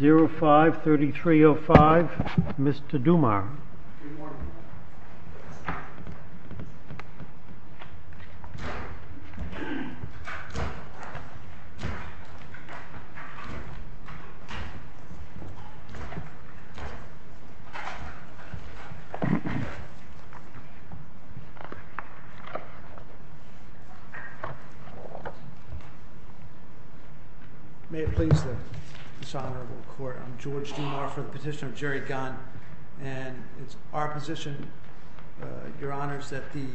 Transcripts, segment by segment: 05-3305, Mr. Dumar. May it please the dishonorable court, I'm George Dumar for the petition of Jerry Gunn and it's our position, your honors, that the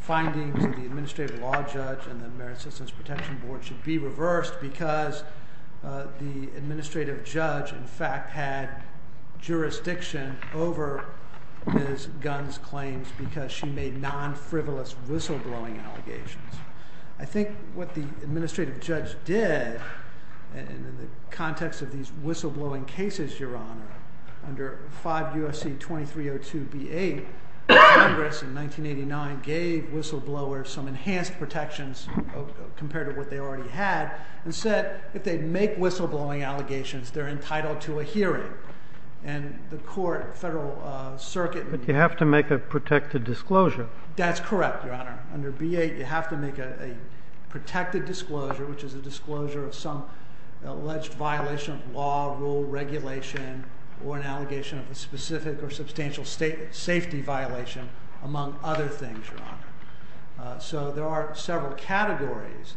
findings of the Administrative Law Judge and the Merit Citizens Protection Board should be reversed because the Administrative Judge in fact had jurisdiction over Ms. Gunn's claims because she made non-frivolous whistleblowing allegations. I think what the Administrative Judge did in the context of these whistleblowing cases, your honor, under 5 U.S.C. 2302 B-8, Congress in 1989 gave whistleblowers some enhanced protections compared to what they already had and said if they make whistleblowing allegations they're entitled to a hearing. And the court, the Federal Circuit... But you have to make a protected disclosure. That's correct, your honor. Under B-8 you have to make a protected disclosure, which is a disclosure of some alleged violation of law, rule, regulation, or an allegation of a specific or substantial safety violation among other things, your honor. So there are several categories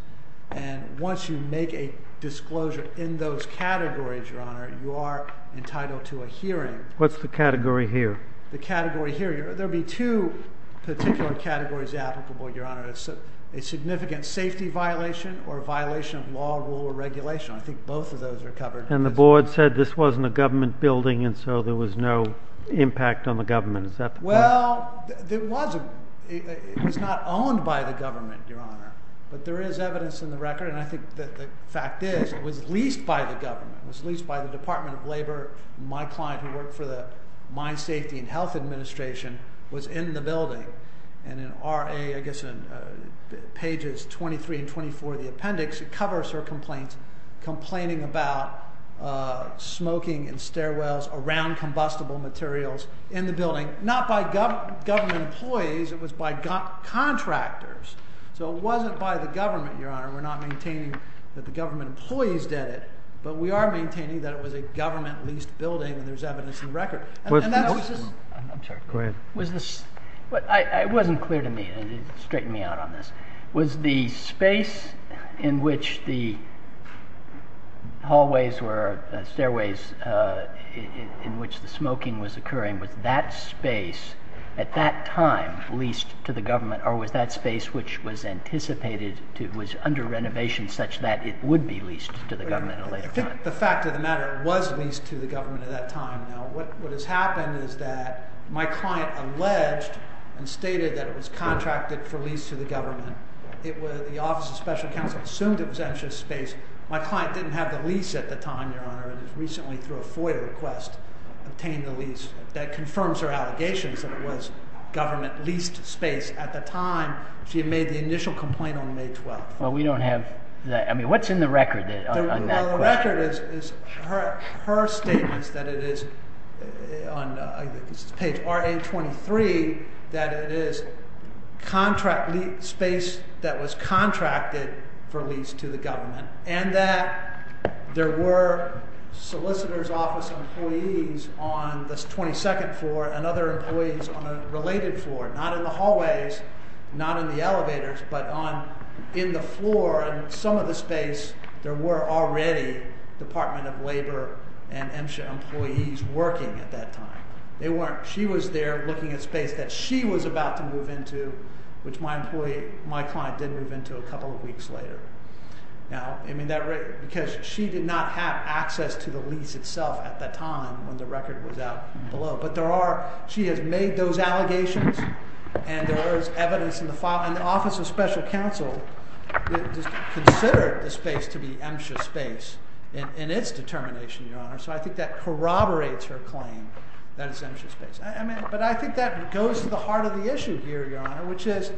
and once you make a disclosure in those categories, your honor, you are entitled to a hearing. What's the category here? The category here. There would be two particular categories applicable, your honor, a significant safety violation or a violation of law, rule, or regulation. I think both of those are covered. And the board said this wasn't a government building and so there was no impact on the government. Is that correct? Well, it wasn't. It was not owned by the government, your honor, but there is evidence in the record, and I think that the fact is it was leased by the government, it was leased by the Department of Labor. My client who worked for the Mine Safety and Health Administration was in the building. And in RA, I guess in pages 23 and 24 of the appendix, it covers her complaint, complaining about smoking in stairwells around combustible materials in the building, not by government employees, it was by contractors. So it wasn't by the government, your honor, we're not maintaining that the government employees did it, but we are maintaining that it was a government leased building and there's evidence in the record. I'm sorry. Go ahead. It wasn't clear to me, straighten me out on this. Was the space in which the stairways in which the smoking was occurring, was that space at that time leased to the government, or was that space which was anticipated to, was under renovation such that it would be leased to the government at a later time? The fact of the matter, it was leased to the government at that time. Now, what has happened is that my client alleged and stated that it was contracted for lease to the government. The Office of Special Counsel assumed it was entrance space. My client didn't have the lease at the time, your honor, and recently through a FOIA request, obtained the lease that confirms her allegations that it was government leased space. At the time, she had made the initial complaint on May 12th. Well, we don't have that. I mean, what's in the record on that question? Well, the record is her statements that it is, on page RA23, that it is space that was contracted for lease to the government, and that there were solicitor's office employees on the 22nd floor and other employees on a related floor. Not in the hallways, not in the elevators, but on in the floor and some of the space there were already Department of Labor and MSHA employees working at that time. They weren't. She was there looking at space that she was about to move into, which my client did move into a couple of weeks later. Now, I mean, because she did not have access to the lease itself at the time when the record was out and below. But there are, she has made those allegations, and there is evidence in the file, and the record states to be MSHA space in its determination, Your Honor. So I think that corroborates her claim that it's MSHA space. But I think that goes to the heart of the issue here, Your Honor, which is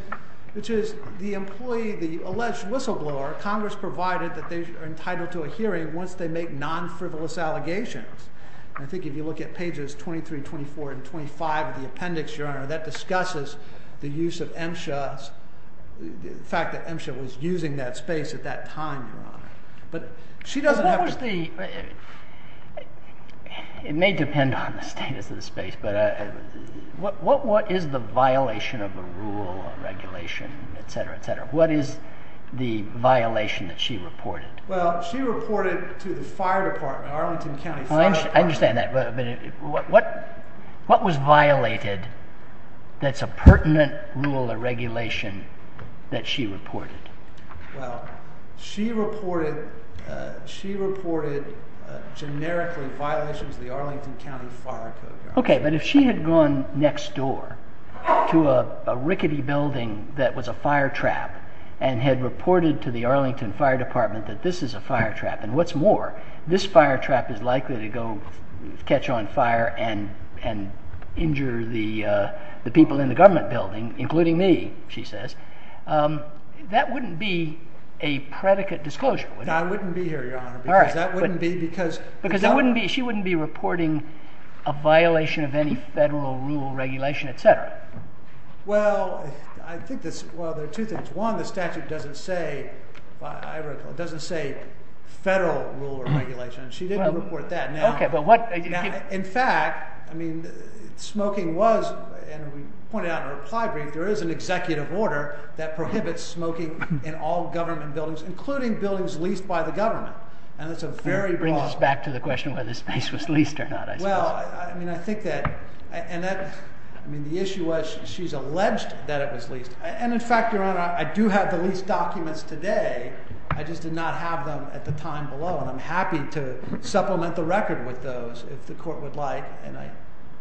the employee, the alleged whistleblower, Congress provided that they are entitled to a hearing once they make non-frivolous allegations. And I think if you look at pages 23, 24, and 25 of the appendix, Your Honor, that discusses the use of MSHA, the fact that MSHA was using that space at that time, Your Honor. But she doesn't have to. What was the, it may depend on the status of the space, but what is the violation of the rule or regulation, et cetera, et cetera? What is the violation that she reported? Well, she reported to the fire department, Arlington County Fire Department. I understand that. But what was violated that's a pertinent rule or regulation that she reported? Well, she reported, she reported generically violations of the Arlington County Fire Code, Your Honor. Okay, but if she had gone next door to a rickety building that was a fire trap, and had reported to the Arlington Fire Department that this is a fire trap, and what's more, this fire trap is likely to go catch on fire and injure the people in the government building, including me, she says, that wouldn't be a predicate disclosure, would it? That wouldn't be, Your Honor, because that wouldn't be because... Because she wouldn't be reporting a violation of any federal rule or regulation, et cetera. Well, I think there are two things. One, the statute doesn't say, I recall, it doesn't say federal rule or regulation. She didn't report that. Okay, but what... In fact, I mean, smoking was, and we pointed out in a reply brief, there is an executive order that prohibits smoking in all government buildings, including buildings leased by the government. And that's a very... It brings us back to the question of whether this place was leased or not, I suppose. Well, I mean, I think that, and that, I mean, the issue was she's alleged that it was leased. And in fact, Your Honor, I do have the lease documents today, I just did not have them at the time below. And I'm happy to supplement the record with those if the court would like, and I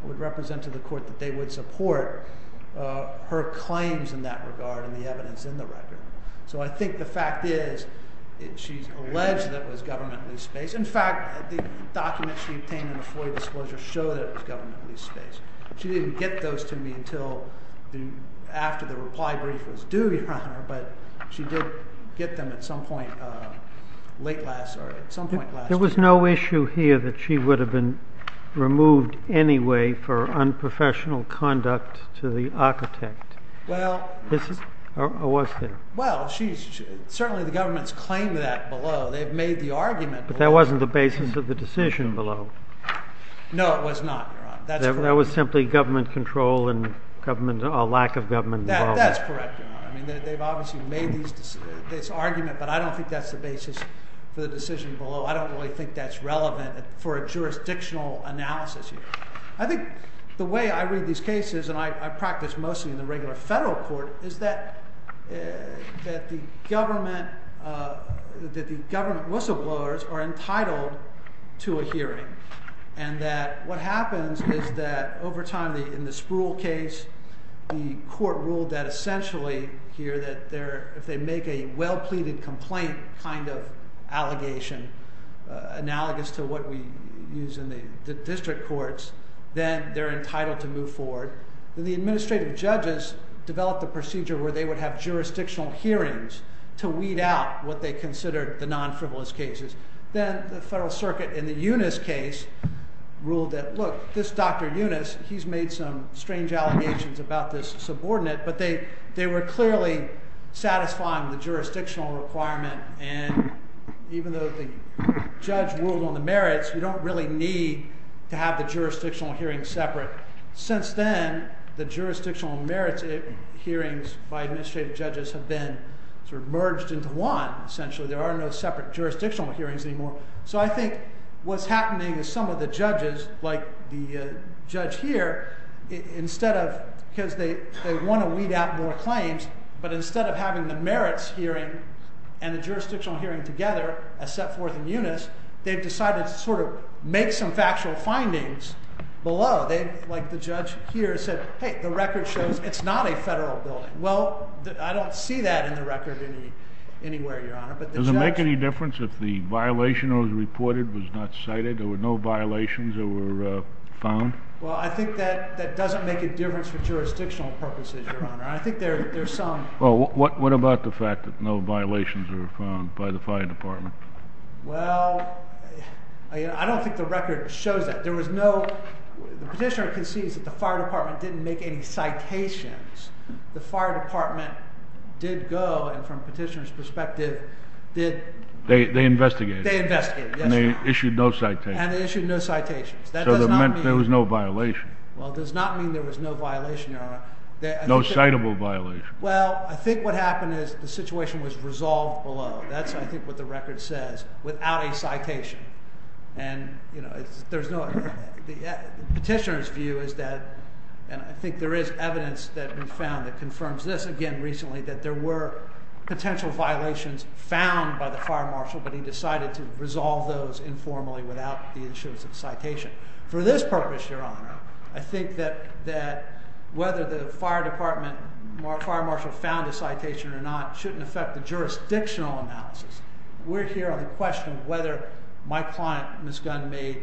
would represent to the court that they would support her claims in that regard and the evidence in the record. So I think the fact is, she's alleged that it was government leased space. In fact, the documents she obtained in the FOIA disclosure show that it was government leased space. She didn't get those to me until after the reply brief was due, Your Honor, but she did get them at some point late last, or at some point last year. There was no issue here that she would have been removed anyway for unprofessional conduct to the architect. Well... Or was there? Well, she's... Certainly, the government's claimed that below. They've made the argument below. But that wasn't the basis of the decision below. No, it was not, Your Honor. That's correct. That was simply government control and government, or lack of government involvement. That's correct, Your Honor. I mean, they've obviously made these... This argument, but I don't think that's the basis for the decision below. I don't really think that's relevant for a jurisdictional analysis here. I think the way I read these cases, and I practice mostly in the regular federal court, is that the government whistleblowers are entitled to a hearing. And that what happens is that over time, in the Spruill case, the court ruled that essentially here, that if they make a well-pleaded complaint kind of allegation, analogous to what we use in the district courts, then they're entitled to move forward. The administrative judges developed a procedure where they would have jurisdictional hearings to weed out what they considered the non-frivolous cases. Then the federal circuit, in the Yunus case, ruled that, look, this Dr. Yunus, he's made some strange allegations about this subordinate, but they were clearly satisfying the jurisdictional requirement. And even though the judge ruled on the merits, you don't really need to have the jurisdictional hearings separate. Since then, the jurisdictional merits hearings by administrative judges have been merged into one, essentially. There are no separate jurisdictional hearings anymore. So I think what's happening is some of the judges, like the judge here, instead of, because they want to weed out more claims, but instead of having the merits hearing and the jurisdictional hearing together, as set forth in Yunus, they've decided to sort of make some factual findings below. They, like the judge here, said, hey, the record shows it's not a federal building. Well, I don't see that in the record anywhere, Your Honor, but the judge. Would it make any difference if the violation that was reported was not cited, or no violations that were found? Well, I think that that doesn't make a difference for jurisdictional purposes, Your Honor. I think there's some. Well, what about the fact that no violations were found by the fire department? Well, I don't think the record shows that. There was no, the petitioner concedes that the fire department didn't make any citations. The fire department did go, and from the petitioner's perspective, did. They investigated. They investigated, yes, Your Honor. And they issued no citations. And they issued no citations. That does not mean. So there was no violation. Well, it does not mean there was no violation, Your Honor. No citable violation. Well, I think what happened is the situation was resolved below. That's, I think, what the record says, without a citation. And, you know, there's no, the petitioner's view is that, and I think there is evidence that we've found that confirms this, again, recently, that there were potential violations found by the fire marshal, but he decided to resolve those informally without the issuance of a citation. For this purpose, Your Honor, I think that whether the fire department, fire marshal found a citation or not shouldn't affect the jurisdictional analysis. We're here on the question of whether my client, Ms. Gunn, made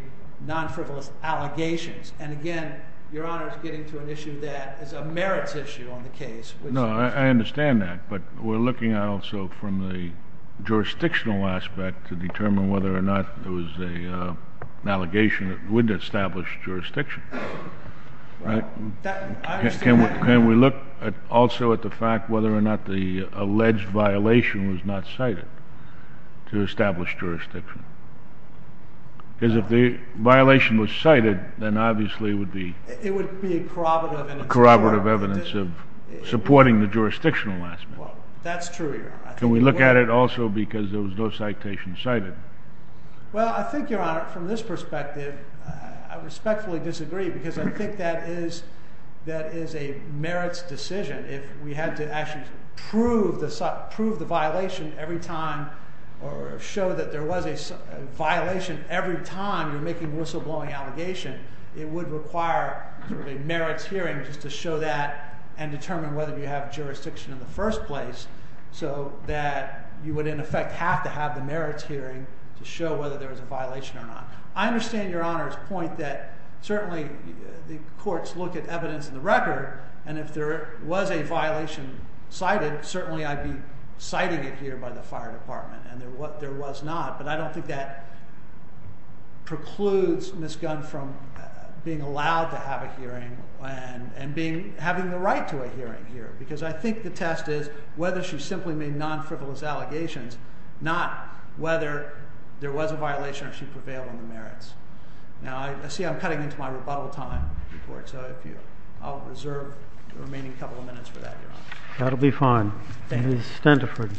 non-frivolous allegations. And, again, Your Honor is getting to an issue that is a merits issue on the case. No. I understand that. But we're looking also from the jurisdictional aspect to determine whether or not it was an allegation that wouldn't establish jurisdiction. Right. I understand that. Can we look also at the fact whether or not the alleged violation was not cited to establish jurisdiction? Because if the violation was cited, then obviously it would be a corroborative evidence of supporting the jurisdictional analysis. That's true, Your Honor. Can we look at it also because there was no citation cited? Well, I think, Your Honor, from this perspective, I respectfully disagree because I think that is a merits decision. If we had to actually prove the violation every time or show that there was a violation every time you're making a whistleblowing allegation, it would require a merits hearing just to show that and determine whether you have jurisdiction in the first place so that you would, in effect, have to have the merits hearing to show whether there was a violation or not. I understand, Your Honor's point, that certainly the courts look at evidence in the record and if there was a violation cited, certainly I'd be citing it here by the fire department and what there was not. But I don't think that precludes Ms. Gunn from being allowed to have a hearing and having the right to a hearing here because I think the test is whether she simply made non-frivolous allegations, not whether there was a violation or she prevailed on the merits. Now, I see I'm cutting into my rebuttal time, so I'll reserve the remaining couple of minutes for that, Your Honor. That'll be fine. Thank you. Ms. Stenderford.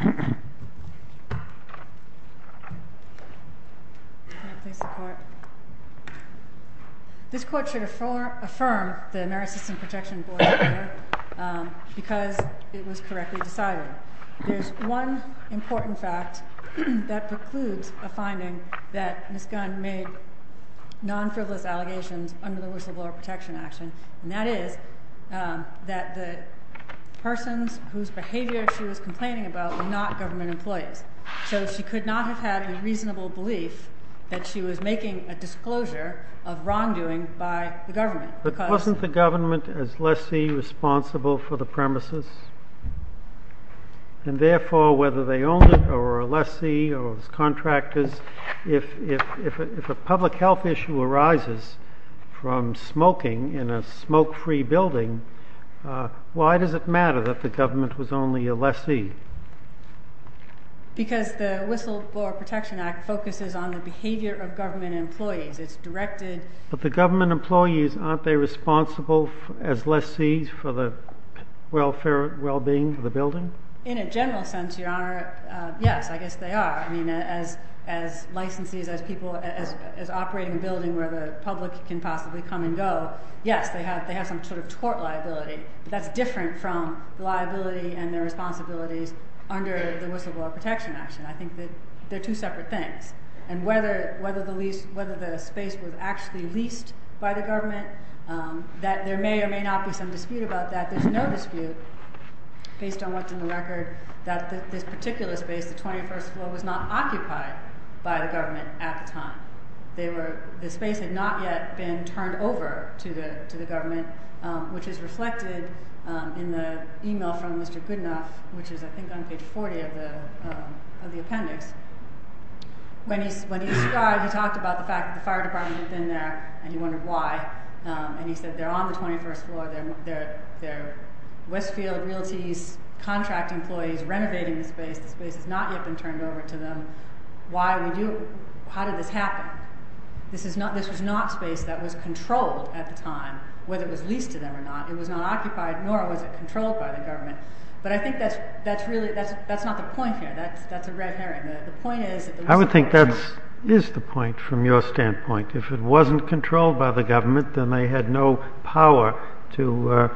Can I please support? This court should affirm the Merit System Protection Board hearing because it was correctly decided. There's one important fact that precludes a finding that Ms. Gunn made non-frivolous allegations under the whistleblower protection action, and that is that the persons whose behavior she was complaining about were not government employees. So she could not have had a reasonable belief that she was making a disclosure of wrongdoing by the government. But wasn't the government as lessee responsible for the premises? And therefore, whether they owned it or were a lessee or was contractors, if a public health issue arises from smoking in a smoke-free building, why does it matter that the government was only a lessee? Because the Whistleblower Protection Act focuses on the behavior of government employees. It's directed— But the government employees, aren't they responsible as lessees for the welfare and well-being of the building? In a general sense, Your Honor, yes, I guess they are. I mean, as licensees, as people—as operating a building where the public can possibly come and go, yes, they have some sort of tort liability. But that's different from liability and their responsibilities under the Whistleblower Protection Action. I think that they're two separate things. And whether the space was actually leased by the government, that there may or may not be some dispute about that. There's no dispute, based on what's in the record, that this particular space, the 21st floor, was not occupied by the government at the time. The space had not yet been turned over to the government, which is reflected in the email from Mr. Goodenough, which is, I think, on page 40 of the appendix. When he described, he talked about the fact that the fire department had been there, and he wondered why. And he said, they're on the 21st floor, they're Westfield Realty's contract employees renovating the space. The space has not yet been turned over to them. How did this happen? This was not space that was controlled at the time, whether it was leased to them or not. It was not occupied, nor was it controlled by the government. But I think that's really, that's not the point here. That's a red herring. The point is that the Whistleblower Protection… I would think that is the point, from your standpoint. If it wasn't controlled by the government, then they had no power to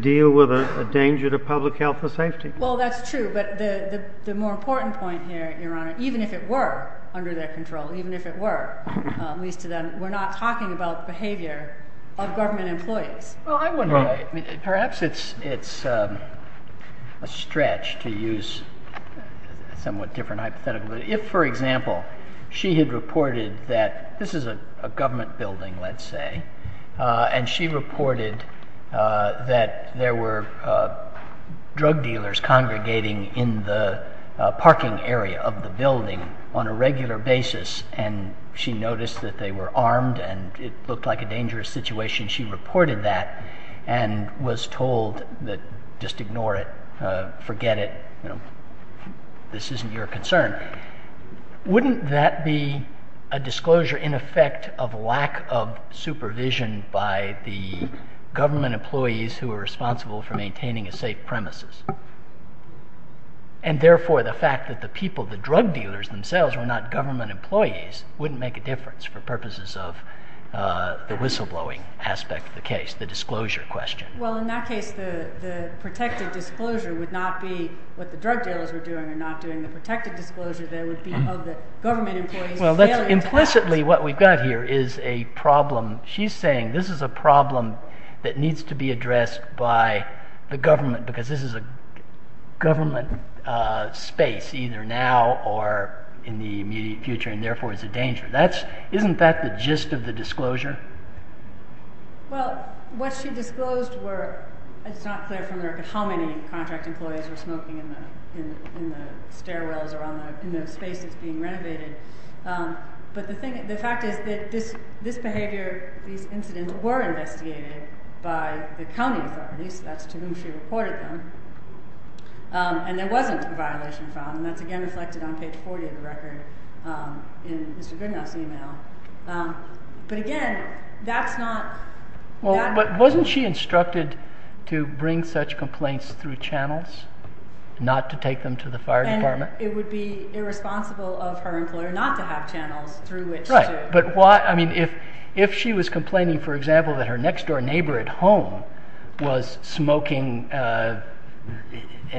deal with a danger to public health or safety. Well, that's true. But the more important point here, Your Honor, even if it were under their control, even if it were leased to them, we're not talking about behavior of government employees. Well, I wonder, perhaps it's a stretch to use a somewhat different hypothetical. If, for example, she had reported that this is a government building, let's say, and she reported that there were drug dealers congregating in the parking area of the building on a regular basis, and she noticed that they were armed and it looked like a dangerous situation, she reported that and was told that just ignore it, forget it, this isn't your concern. Wouldn't that be a disclosure, in effect, of lack of supervision by the government employees who are responsible for maintaining a safe premises? And therefore, the fact that the people, the drug dealers themselves, were not government employees wouldn't make a difference for purposes of the whistleblowing aspect of the case, the disclosure question. Well, in that case, the protected disclosure would not be what the drug dealers were doing when they're not doing the protected disclosure, they would be of the government employees failing to act. Well, that's implicitly what we've got here is a problem. She's saying this is a problem that needs to be addressed by the government because this is a government space, either now or in the immediate future, and therefore it's a danger. Isn't that the gist of the disclosure? Well, what she disclosed were, it's not clear from the record how many contract employees were smoking in the stairwells or in the space that's being renovated, but the fact is that this behavior, these incidents were investigated by the county authorities, that's to whom she reported them, and there wasn't a violation found, and that's again reflected on page 40 of the record in Mr. Goodenough's email. But again, that's not... But wasn't she instructed to bring such complaints through channels, not to take them to the fire department? And it would be irresponsible of her employer not to have channels through which to... Right, but why? I mean, if she was complaining, for example, that her next door neighbor at home was smoking and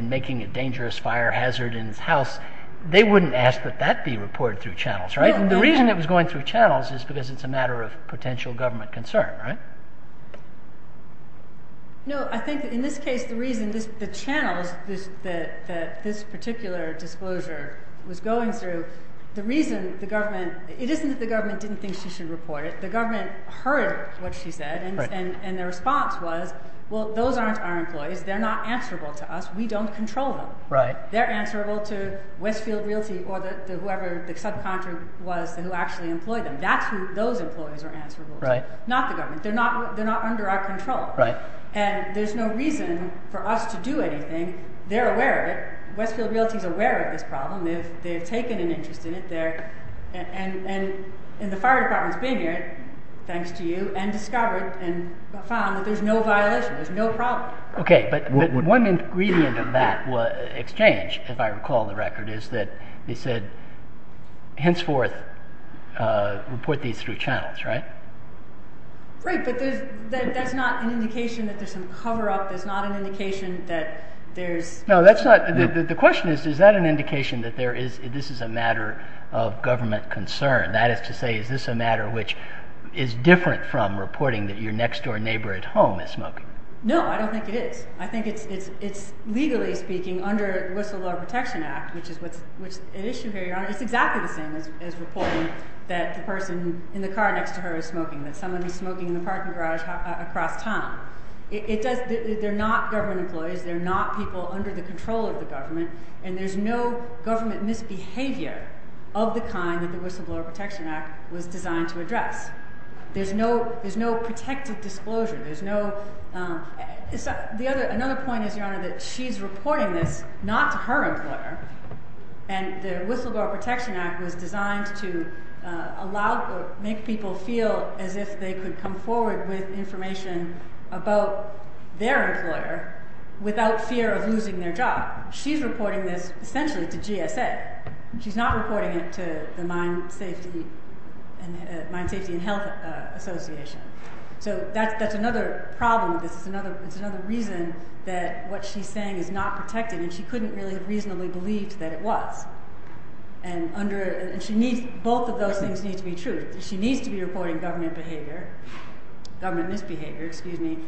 making a dangerous fire hazard in his house, they wouldn't ask that that be reported through channels, right? And the reason it was going through channels is because it's a matter of potential government concern, right? No, I think that in this case, the reason, the channels that this particular disclosure was going through, the reason the government... It isn't that the government didn't think she should report it, the government heard what she said, and the response was, well, those aren't our employees, they're not answerable to us, we don't control them. They're answerable to Westfield Realty or whoever the subcontractor was who actually employed them. That's who those employees are answerable to. Right. Not the government. They're not under our control. Right. And there's no reason for us to do anything. They're aware of it. Westfield Realty's aware of this problem. They've taken an interest in it. And the fire department's been here, thanks to you, and discovered and found that there's no violation, there's no problem. Okay, but one ingredient of that exchange, if I recall the record, is that they said, henceforth, report these through channels, right? Right, but that's not an indication that there's some cover-up, there's not an indication that there's... No, that's not... The question is, is that an indication that this is a matter of government concern? That is to say, is this a matter which is different from reporting that your next-door neighbor at home is smoking? No, I don't think it is. I think it's, legally speaking, under the Whistleblower Protection Act, which is an issue here, Your Honor. It's exactly the same as reporting that the person in the car next to her is smoking, that someone is smoking in the parking garage across town. They're not government employees, they're not people under the control of the government, and there's no government misbehavior of the kind that the Whistleblower Protection Act was designed to address. There's no protected disclosure, there's no... Another point is, Your Honor, that she's reporting this not to her employer, and the Whistleblower Protection Act was designed to make people feel as if they could come forward with information about their employer without fear of losing their job. She's reporting this, essentially, to GSA. She's not reporting it to the Mine Safety and Health Association. That's another problem. It's another reason that what she's saying is not protected, and she couldn't really have reasonably believed that it was. Both of those things need to be true. She needs to be reporting government misbehavior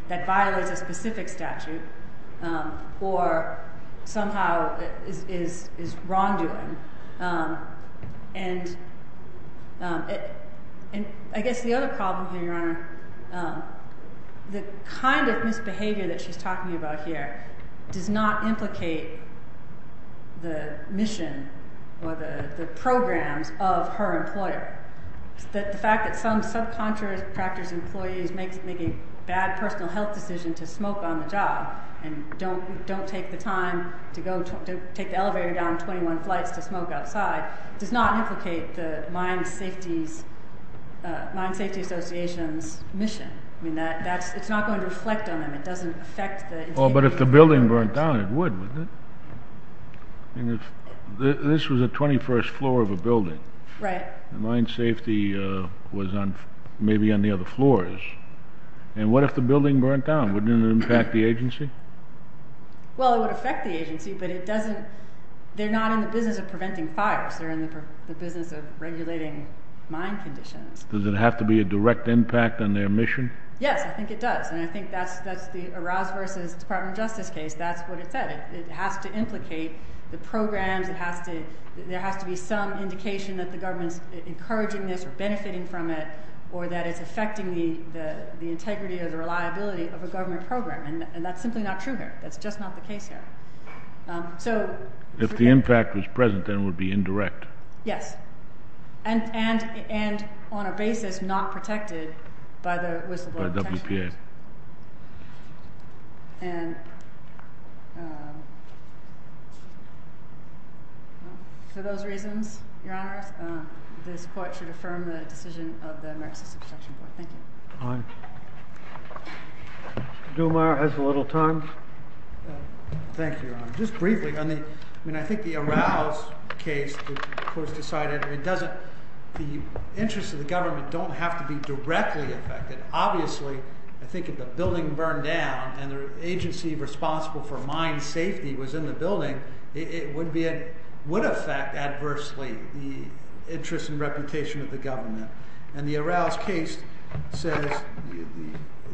that violates a specific statute, or somehow is wrongdoing. I guess the other problem here, Your Honor, the kind of misbehavior that she's talking about here does not implicate the mission or the programs of her employer. The fact that some subcontractor's employees make a bad personal health decision to smoke on the job, and don't take the time to take the elevator down 21 flights to smoke outside, does not implicate the Mine Safety Association's mission. It's not going to reflect on them. It doesn't affect the... But if the building burnt down, it would, wouldn't it? This was the 21st floor of a building. Right. Mine Safety was maybe on the other floors. And what if the building burnt down? Wouldn't it impact the agency? Well, it would affect the agency, but it doesn't... They're not in the business of preventing fires. They're in the business of regulating mine conditions. Does it have to be a direct impact on their mission? Yes, I think it does. And I think that's the Arouse v. Department of Justice case. That's what it said. It has to implicate the programs. There has to be some indication that the government's encouraging this or benefiting from it, or that it's affecting the integrity or the reliability of a government program. And that's simply not true here. That's just not the case here. So... If the impact was present, then it would be indirect. Yes. And on a basis not protected by the whistleblower protections. By WPA. And... For those reasons, Your Honor, this court should affirm the decision of the American System of Protection Court. Thank you. All right. Mr. Duhemeyer has a little time. Thank you, Your Honor. Just briefly, on the... I mean, I think the Arouse case was decided... I mean, doesn't... The interests of the government don't have to be directly affected. Obviously, I think if the building burned down and the agency responsible for mine safety was in the building, it would affect adversely the interest and reputation of the government. And the Arouse case says that...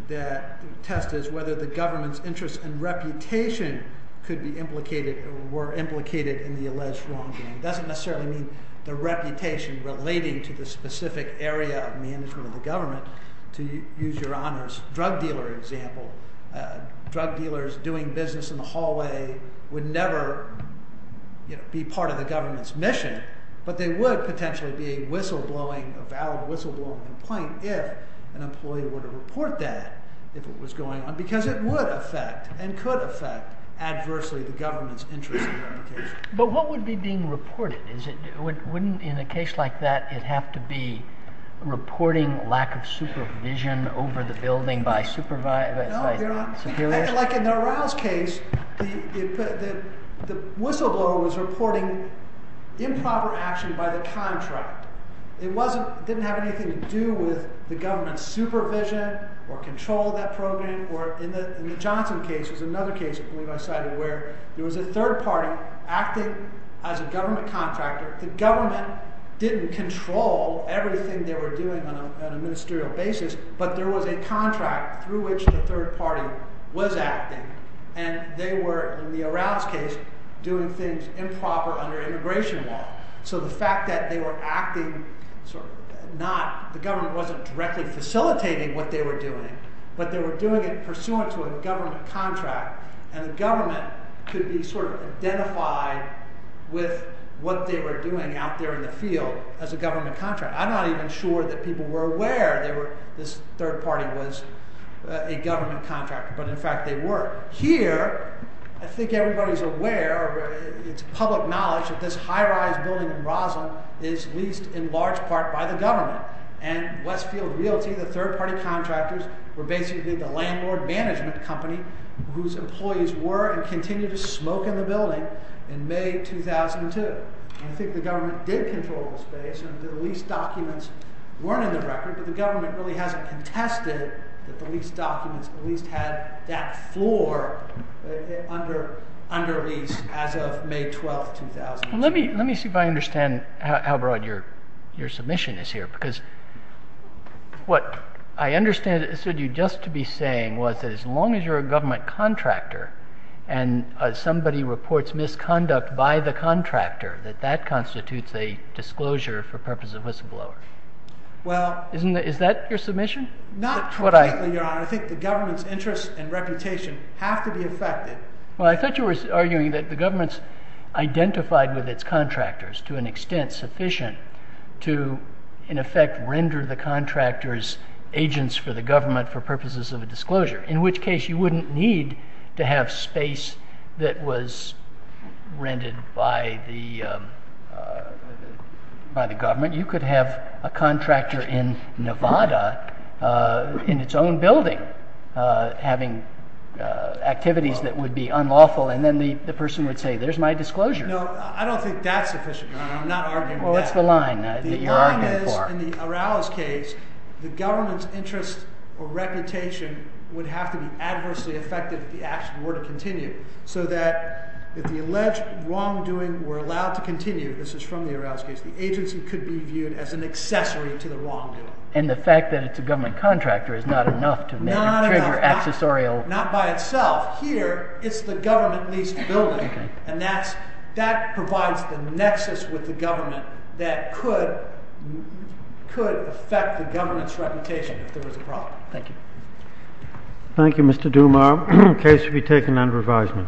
The test is whether the government's interest and reputation could be implicated or were implicated in the alleged wrongdoing. It doesn't necessarily mean the reputation relating to the specific area of management of the government. To use Your Honor's drug dealer example, drug dealers doing business in the hallway would never be part of the government's mission, but they would potentially be a valid whistleblowing complaint if an employee were to report that, if it was going on, because it would affect and could affect adversely the government's interest and reputation. But what would be being reported? Wouldn't, in a case like that, it have to be reporting lack of supervision over the building by supervisors? No, Your Honor. Like in the Arouse case, the whistleblower was reporting improper action by the contract. It didn't have anything to do with the government's supervision or control of that program. In the Johnson case, there was another case where there was a third party acting as a government contractor. The government didn't control everything they were doing on a ministerial basis, but there was a contract through which the third party was acting. And they were, in the Arouse case, doing things improper under immigration law. So the fact that they were acting not... The government wasn't directly facilitating what they were doing, but they were doing it pursuant to a government contract, and the government could be sort of identified with what they were doing out there in the field as a government contractor. I'm not even sure that people were aware this third party was a government contractor, but in fact they were. Here, I think everybody's aware, it's public knowledge, that this high-rise building in Rossum is leased in large part by the government. And Westfield Realty, the third party contractors, were basically the landlord management company whose employees were and continue to smoke in the building in May 2002. I think the government did control the space, and the lease documents weren't in the record, but the government really hasn't contested that the lease documents at least had that floor under lease as of May 12, 2002. Let me see if I understand how broad your submission is here, because what I understood you just to be saying was that as long as you're a government contractor and somebody reports misconduct by the contractor, that that constitutes a disclosure for purpose of whistleblower. Well... Isn't that... Is that your submission? Not completely, Your Honor. I think the government's interest and reputation have to be affected. Well, I thought you were arguing that the government's identified with its contractors to an extent sufficient to, in effect, render the contractors agents for the government for purposes of a disclosure, in which case you wouldn't need to have space that was rented by the government. You could have a contractor in Nevada in its own building having activities that would be unlawful, and then the person would say, there's my disclosure. No, I don't think that's sufficient, Your Honor. I'm not arguing that. Well, what's the line that you're arguing for? The line is, in the Araos case, the government's interest or reputation would have to be adversely affected if the action were to continue, so that if the alleged wrongdoing were allowed to continue, this is from the Araos case, the agency could be viewed as an accessory to the wrongdoing. And the fact that it's a government contractor is not enough to trigger accessorial... Not by itself. Here, it's the government leased building, and that provides the nexus with the government that could affect the government's reputation if there was a problem. Thank you. Thank you, Mr. Dumas. The case will be taken under advisement.